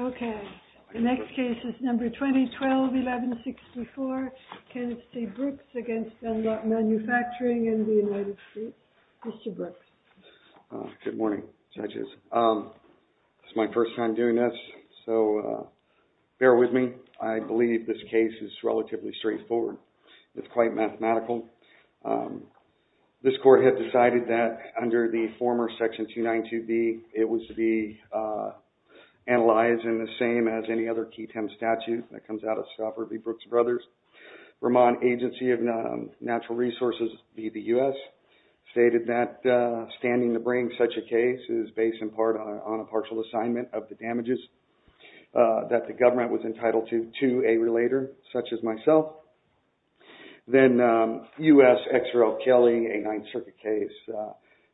Okay, the next case is number 2012-11-64, Kenneth M. Dunlop v. DUNLOP MANUFACTURING. I'm here to see Brooks against Dunlop Manufacturing and the United States. Mr. Brooks. Good morning judges. It's my first time doing this, so bear with me. I believe this case is relatively straightforward. It's quite mathematical. This court had decided that under the former section 292B, it was to be analyzed in the same as any other key temp statute that comes out of Stafford v. Brooks Brothers. Vermont Agency of Natural Resources v. the U.S. stated that standing to bring such a case is based in part on a partial assignment of the damages that the government was entitled to to a relator such as myself. Then U.S. Exera O'Kelley, a Ninth Circuit case,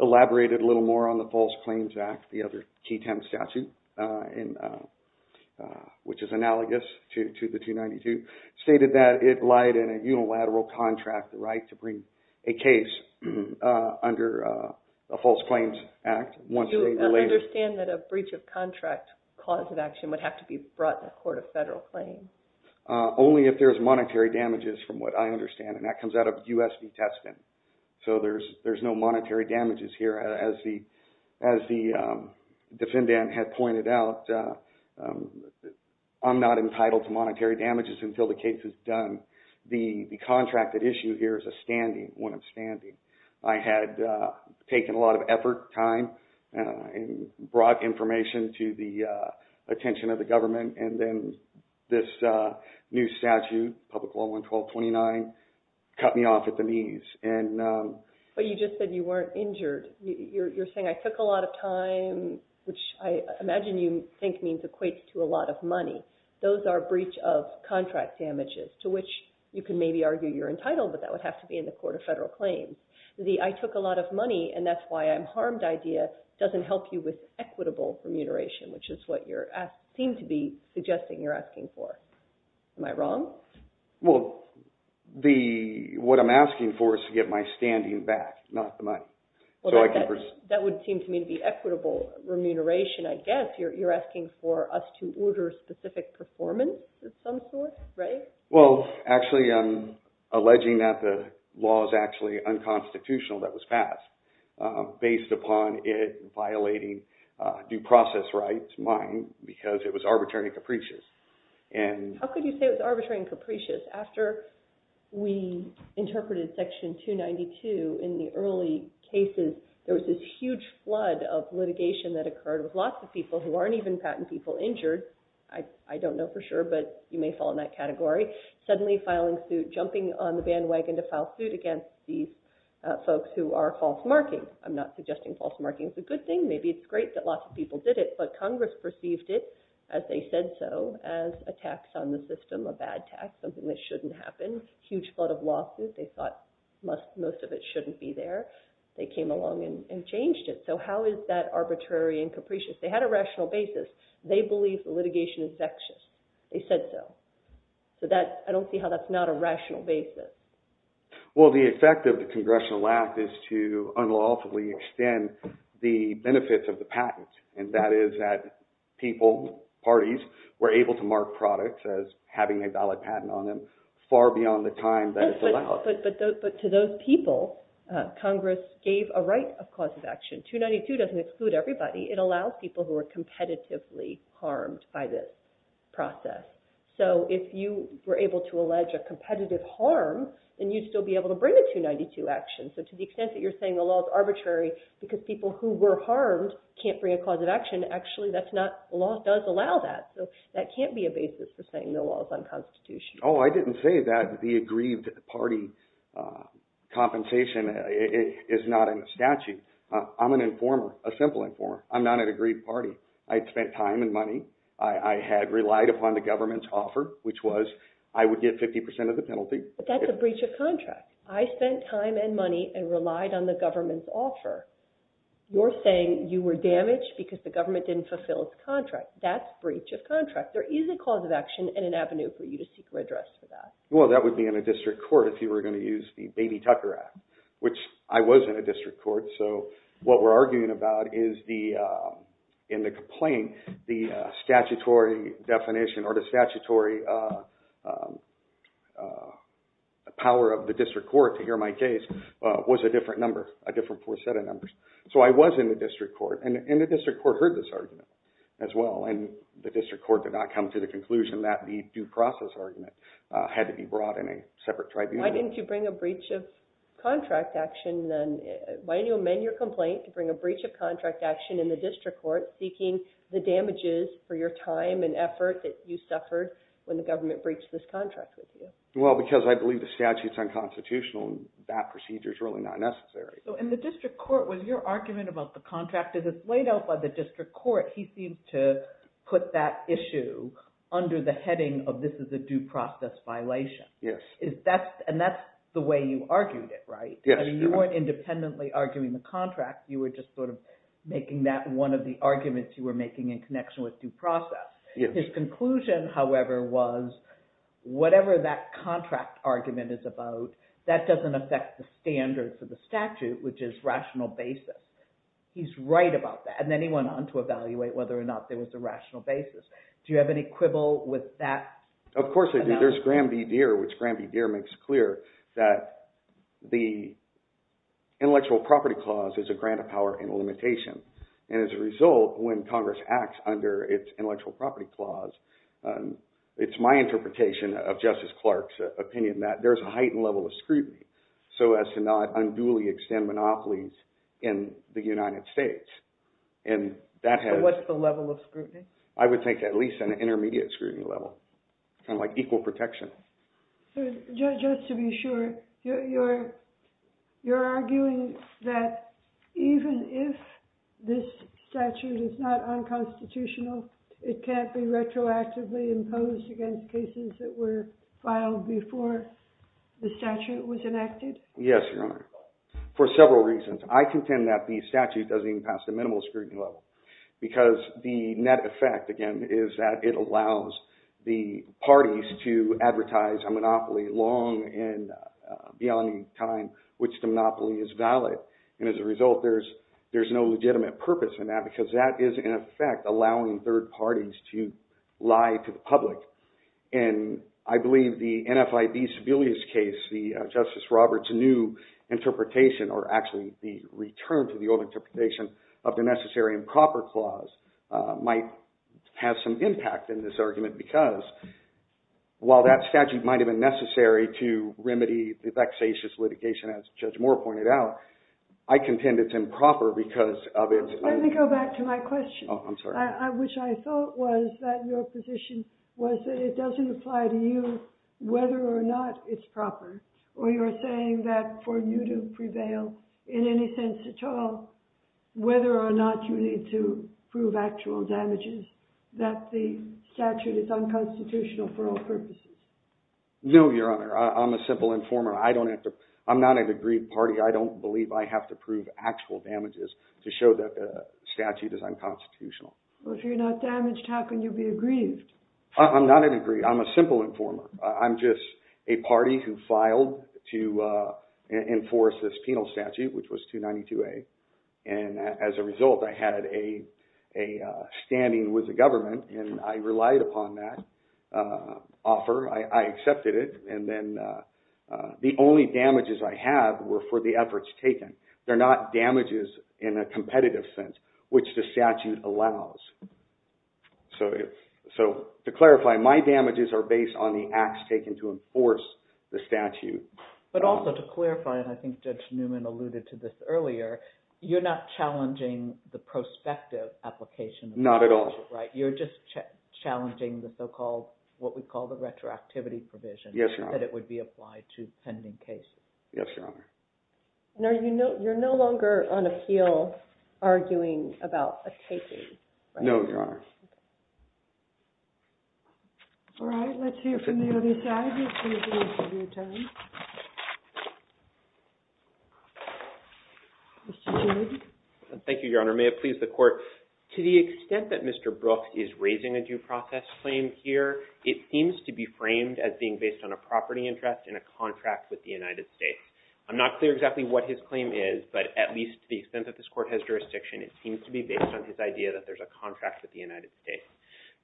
elaborated a little more on the False Claims Act, the other key temp statute, which is analogous to the 292, stated that it lied in a unilateral contract right to bring a case under the False Claims Act. Do you understand that a breach of contract cause of action would have to be brought in a court of federal claim? Only if there's monetary damages from what I understand, and that comes out of U.S. v. Tespin. So there's no monetary damages here. As the defendant had pointed out, I'm not entitled to monetary damages until the case is done. The contracted issue here is a standing, when I'm standing. I had taken a lot of effort, time, and brought information to the attention of the government, and then this new statute, Public Law 11229, cut me off at the knees. But you just said you weren't injured. You're saying I took a lot of time, which I imagine you think means equates to a lot of money. Those are breach of contract damages, to which you can maybe argue you're entitled, but that would have to be in the court of federal claim. The I took a lot of money, and that's why I'm harmed idea doesn't help you with equitable remuneration, which is what you seem to be suggesting you're asking for. Am I wrong? Well, what I'm asking for is to get my standing back, not the money. Well, that would seem to me to be equitable remuneration, I guess. You're asking for us to order specific performance of some sort, right? Well, actually, I'm alleging that the law is actually unconstitutional that was passed based upon it violating due process rights, mine, because it was arbitrary capricious. How could you say it was arbitrary and capricious? After we interpreted Section 292 in the early cases, there was this huge flood of litigation that occurred with lots of people who aren't even patent people injured. I don't know for sure, but you may fall in that category. Suddenly filing suit, jumping on the bandwagon to file suit against these folks who are false markings. I'm not suggesting false marking is a good thing. Maybe it's great that lots of people did it, but Congress perceived it, as they said so, as a tax on the system, a bad tax, something that shouldn't happen. Huge flood of losses. They thought most of it shouldn't be there. They came along and changed it. So how is that arbitrary and capricious? They had a rational basis. They believe the litigation is vexed. They said so. I don't see how that's not a rational basis. Well, the effect of the Congressional Act is to unlawfully extend the benefits of the patent. And that is that people, parties, were able to mark products as having a valid patent on them far beyond the time that it's allowed. But to those people, Congress gave a right of cause of action. 292 doesn't exclude everybody. It allows people who are competitively harmed by this process. So if you were able to allege a competitive harm, then you'd still be able to bring a 292 action. So to the extent that you're saying the law is arbitrary because people who were harmed can't bring a cause of action, actually, the law does allow that. So that can't be a basis for saying the law is unconstitutional. Oh, I didn't say that the aggrieved party compensation is not in the statute. I'm an informer, a simple informer. I'm not an aggrieved party. I spent time and money. I had relied upon the government's offer, which was I would get 50% of the penalty. But that's a breach of contract. I spent time and money and relied on the government's offer. You're saying you were damaged because the government didn't fulfill its contract. That's breach of contract. There is a cause of action and an avenue for you to seek redress for that. Well, that would be in a district court if you were going to use the Baby Tucker Act, which I was in a district court. So what we're arguing about is in the complaint, the statutory definition or the statutory power of the district court to hear my case was a different number, a different set of numbers. So I was in the district court, and the district court heard this argument as well, and the district court did not come to the conclusion that the due process argument had to be brought in a separate tribunal. Why didn't you amend your complaint to bring a breach of contract action in the district court seeking the damages for your time and effort that you suffered when the government breached this contract with you? Well, because I believe the statute's unconstitutional, and that procedure's really not necessary. So in the district court, was your argument about the contract as it's laid out by the district court, he seems to put that issue under the heading of this is a due process violation. Yes. And that's the way you argued it, right? Yes. You weren't independently arguing the contract. You were just sort of making that one of the arguments you were making in connection with due process. His conclusion, however, was whatever that contract argument is about, that doesn't affect the standards of the statute, which is rational basis. He's right about that, and then he went on to evaluate whether or not there was a rational basis. Do you have any quibble with that? Of course I do. There's Graham v. Deere, which Graham v. Deere makes clear that the intellectual property clause is a grant of power and a limitation. And as a result, when Congress acts under its intellectual property clause, it's my interpretation of Justice Clark's opinion that there's a heightened level of scrutiny so as to not unduly extend monopolies in the United States. I would take at least an intermediate scrutiny level, kind of like equal protection. So just to be sure, you're arguing that even if this statute is not unconstitutional, it can't be retroactively imposed against cases that were filed before the statute was enacted? Yes, Your Honor, for several reasons. I contend that the statute doesn't even pass the minimal scrutiny level because the net effect, again, is that it allows the parties to advertise a monopoly long and beyond the time which the monopoly is valid. And as a result, there's no legitimate purpose in that because that is, in effect, allowing third parties to lie to the public. And I believe the NFIB Sebelius case, Justice Roberts' new interpretation, or actually the return to the old interpretation of the necessary improper clause, might have some impact in this argument because while that statute might have been necessary to remedy the vexatious litigation, as Judge Moore pointed out, I contend it's improper because of its— Let me go back to my question. Oh, I'm sorry. Which I thought was that your position was that it doesn't apply to you whether or not it's proper, or you're saying that for you to prevail in any sense at all, whether or not you need to prove actual damages, that the statute is unconstitutional for all purposes? No, Your Honor. I'm a simple informer. I don't have to—I'm not an aggrieved party. I don't believe I have to prove actual damages to show that the statute is unconstitutional. Well, if you're not damaged, how can you be aggrieved? I'm not aggrieved. I'm a simple informer. I'm just a party who filed to enforce this penal statute, which was 292A. And as a result, I had a standing with the government, and I relied upon that offer. I accepted it, and then the only damages I have were for the efforts taken. They're not damages in a competitive sense, which the statute allows. So to clarify, my damages are based on the acts taken to enforce the statute. But also to clarify, and I think Judge Newman alluded to this earlier, you're not challenging the prospective application of the statute, right? Not at all. You're just challenging the so-called—what we call the retroactivity provision. Yes, Your Honor. That it would be applied to pending cases. Yes, Your Honor. And are you—you're no longer on appeal arguing about a taking? No, Your Honor. Okay. All right. Let's hear from the other side. This is the interview time. Mr. Toombs. Thank you, Your Honor. May it please the Court, to the extent that Mr. Brooks is raising a due process claim here, it seems to be framed as being based on a property interest in a contract with the United States. I'm not clear exactly what his claim is, but at least to the extent that this Court has jurisdiction, it seems to be based on his idea that there's a contract with the United States.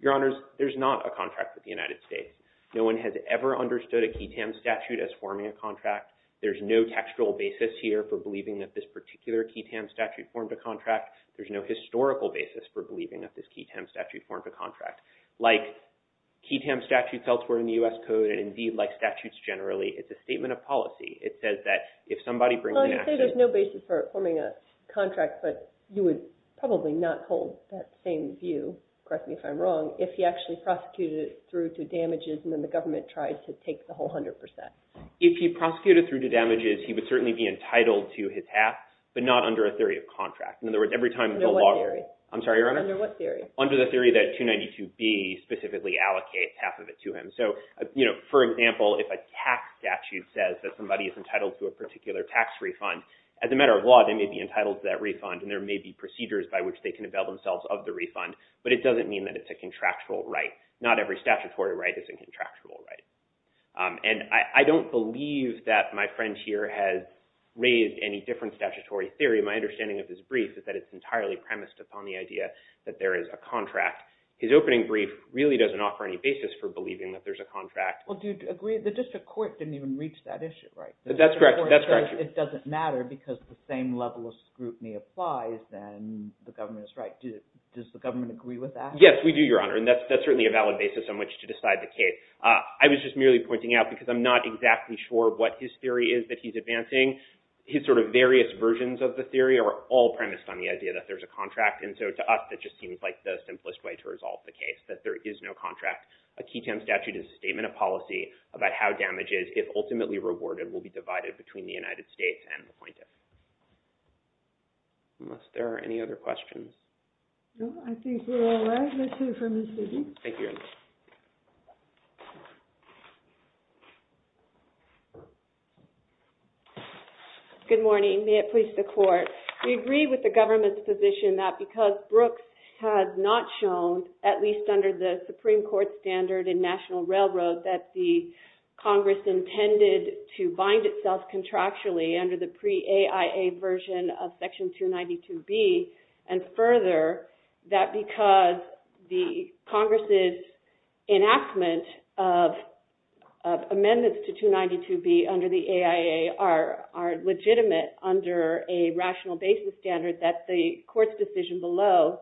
Your Honors, there's not a contract with the United States. No one has ever understood a QI-TAM statute as forming a contract. There's no textual basis here for believing that this particular QI-TAM statute formed a contract. There's no historical basis for believing that this QI-TAM statute formed a contract. Like QI-TAM statutes elsewhere in the U.S. Code, and indeed like statutes generally, it's a statement of policy. Well, you say there's no basis for forming a contract, but you would probably not hold that same view, correct me if I'm wrong, if he actually prosecuted it through to damages and then the government tried to take the whole 100 percent. If he prosecuted it through to damages, he would certainly be entitled to his half, but not under a theory of contract. Under what theory? I'm sorry, Your Honor? Under what theory? Under the theory that 292B specifically allocates half of it to him. So, you know, for example, if a tax statute says that somebody is entitled to a particular tax refund, as a matter of law, they may be entitled to that refund and there may be procedures by which they can avail themselves of the refund, but it doesn't mean that it's a contractual right. Not every statutory right is a contractual right. And I don't believe that my friend here has raised any different statutory theory. My understanding of this brief is that it's entirely premised upon the idea that there is a contract. His opening brief really doesn't offer any basis for believing that there's a contract. Well, do you agree? The district court didn't even reach that issue, right? That's correct. It doesn't matter because the same level of scrutiny applies and the government is right. Does the government agree with that? Yes, we do, Your Honor, and that's certainly a valid basis on which to decide the case. I was just merely pointing out because I'm not exactly sure what his theory is that he's advancing. His sort of various versions of the theory are all premised on the idea that there's a contract. And so to us, that just seems like the simplest way to resolve the case, that there is no contract. A QI-TEM statute is a statement of policy about how damages, if ultimately rewarded, will be divided between the United States and the appointee. Unless there are any other questions. No, I think we're all right. Let's hear from Ms. Levy. Thank you, Your Honor. Good morning. May it please the Court. We agree with the government's position that because Brooks has not shown, at least under the Supreme Court standard in National Railroad, that the Congress intended to bind itself contractually under the pre-AIA version of Section 292B, and further, that because the Congress's enactment of amendments to 292B under the AIA are legitimate under a rational basis standard, that the Court's decision below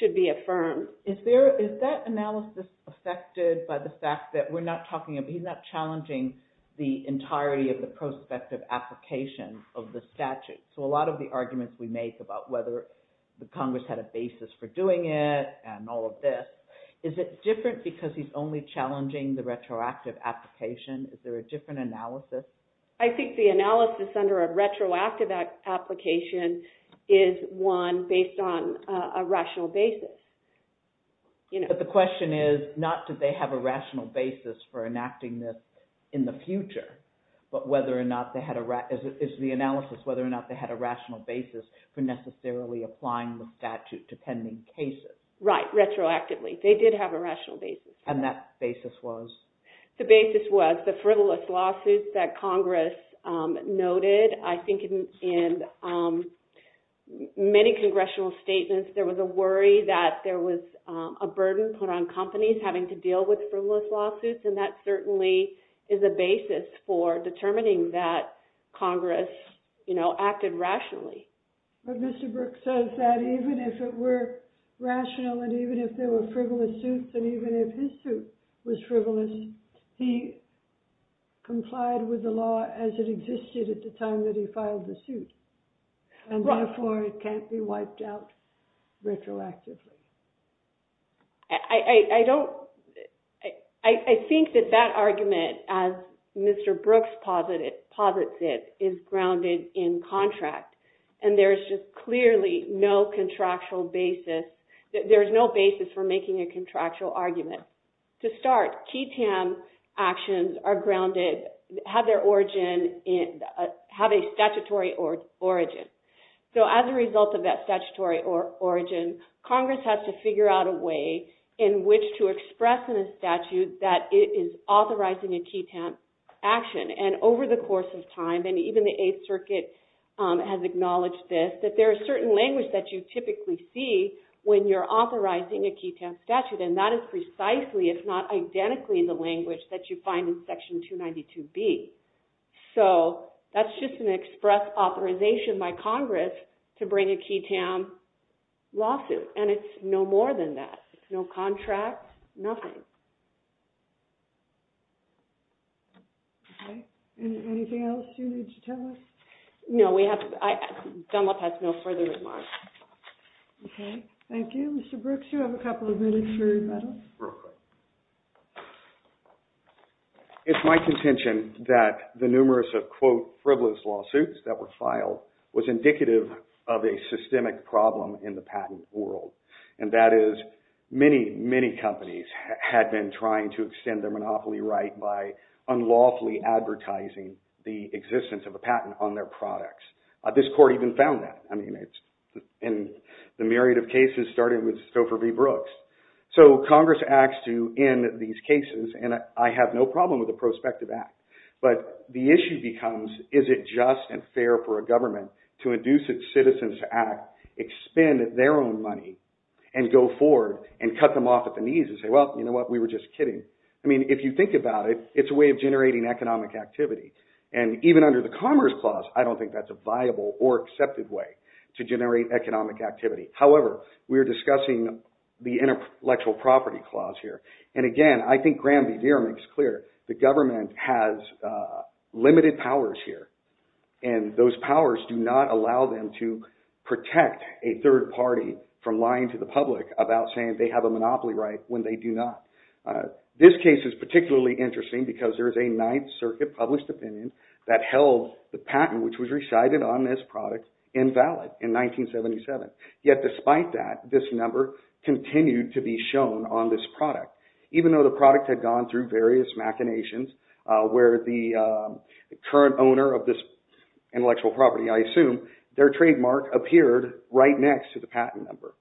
should be affirmed. Is that analysis affected by the fact that he's not challenging the entirety of the prospective application of the statute? So a lot of the arguments we make about whether the Congress had a basis for doing it and all of this, is it different because he's only challenging the retroactive application? Is there a different analysis? I think the analysis under a retroactive application is one based on a rational basis. But the question is, not do they have a rational basis for enacting this in the future, but whether or not they had a rational basis for necessarily applying the statute to pending cases. Right, retroactively. They did have a rational basis. And that basis was? The basis was the frivolous lawsuits that Congress noted. I think in many congressional statements there was a worry that there was a burden put on companies having to deal with frivolous lawsuits, and that certainly is a basis for determining that Congress acted rationally. But Mr. Brooks says that even if it were rational, and even if there were frivolous suits, and even if his suit was frivolous, he complied with the law as it existed at the time that he filed the suit. And therefore it can't be wiped out retroactively. I think that that argument, as Mr. Brooks posits it, is grounded in contract. And there is just clearly no contractual basis. There is no basis for making a contractual argument. To start, QTAM actions are grounded, have their origin, have a statutory origin. So as a result of that statutory origin, Congress has to figure out a way in which to express in a statute that it is authorizing a QTAM action. And over the course of time, and even the Eighth Circuit has acknowledged this, that there are certain languages that you typically see when you're authorizing a QTAM statute. And that is precisely, if not identically, the language that you find in Section 292B. So that's just an express authorization by Congress to bring a QTAM lawsuit. And it's no more than that. It's no contract, nothing. Anything else you need to tell us? No, Dunlop has no further remarks. Okay, thank you. Mr. Brooks, you have a couple of minutes for rebuttal. Real quick. It's my contention that the numerous of, quote, frivolous lawsuits that were filed was indicative of a systemic problem in the patent world. And that is, many, many companies had been trying to extend their monopoly right by unlawfully advertising the existence of a patent on their products. This court even found that. I mean, the myriad of cases started with Stouffer v. Brooks. So Congress acts to end these cases, and I have no problem with a prospective act. But the issue becomes, is it just and fair for a government to induce its citizens to act, expend their own money, and go forward and cut them off at the knees and say, well, you know what, we were just kidding. I mean, if you think about it, it's a way of generating economic activity. And even under the Commerce Clause, I don't think that's a viable or accepted way to generate economic activity. However, we are discussing the Intellectual Property Clause here. And again, I think Graham v. Deere makes clear the government has limited powers here. And those powers do not allow them to protect a third party from lying to the public about saying they have a monopoly right when they do not. This case is particularly interesting because there is a Ninth Circuit published opinion that held the patent which was recited on this product invalid in 1977. Yet despite that, this number continued to be shown on this product, even though the product had gone through various machinations where the current owner of this intellectual property, I assume, their trademark appeared right next to the patent number.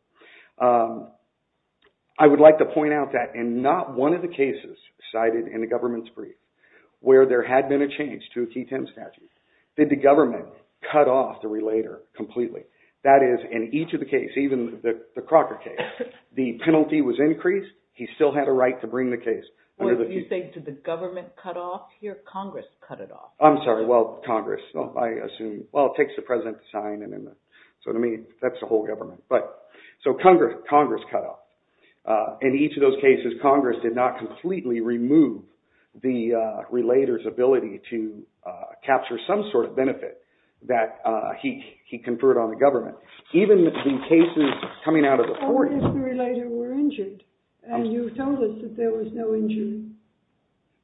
I would like to point out that in not one of the cases cited in the government's brief where there had been a change to a TTIM statute, did the government cut off the relator completely? That is, in each of the cases, even the Crocker case, the penalty was increased. He still had a right to bring the case. You say, did the government cut off here? Congress cut it off. I'm sorry. Well, Congress. I assume, well, it takes the President to sign. So, I mean, that's the whole government. So, Congress cut off. In each of those cases, Congress did not completely remove the relator's ability to capture some sort of benefit that he conferred on the government. Even the cases coming out of the 40s. What if the relator were injured and you told us that there was no injury?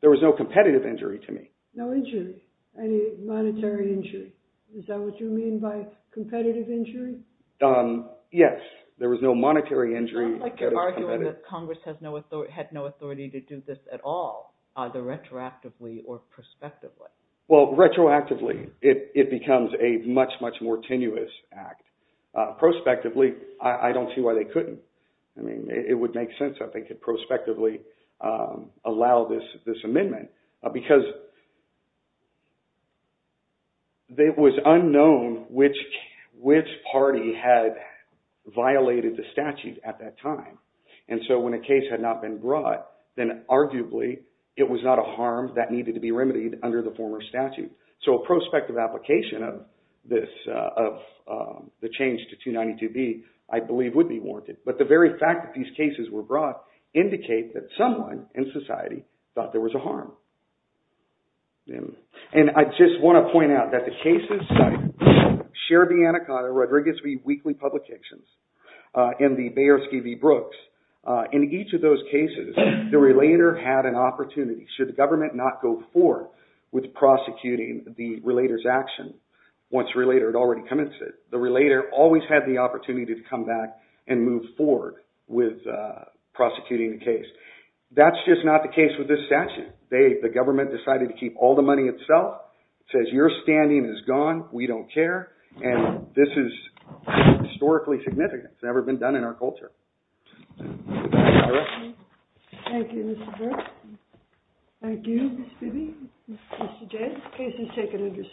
There was no competitive injury to me. No injury, any monetary injury. Is that what you mean by competitive injury? Yes, there was no monetary injury. I would like to argue that Congress had no authority to do this at all, either retroactively or prospectively. Well, retroactively, it becomes a much, much more tenuous act. Prospectively, I don't see why they couldn't. I mean, it would make sense if they could prospectively allow this amendment because it was unknown which party had violated the statute at that time. And so, when a case had not been brought, then arguably, it was not a harm that needed to be remedied under the former statute. So, a prospective application of the change to 292B, I believe, would be warranted. But the very fact that these cases were brought indicate that someone in society thought there was a harm. And I just want to point out that the cases, Share the Anaconda, Rodriguez v. Weekly Publications, and the Bayers v. Brooks, in each of those cases, the relator had an opportunity. Should the government not go forward with prosecuting the relator's action once the relator had already commenced it, the relator always had the opportunity to come back and move forward with prosecuting the case. That's just not the case with this statute. The government decided to keep all the money itself. It says, your standing is gone. We don't care. And this is historically significant. It's never been done in our culture. Thank you. Thank you, Mr. Brooks. Thank you, Ms. Bibby. Mr. Jay, the case is taken under submission.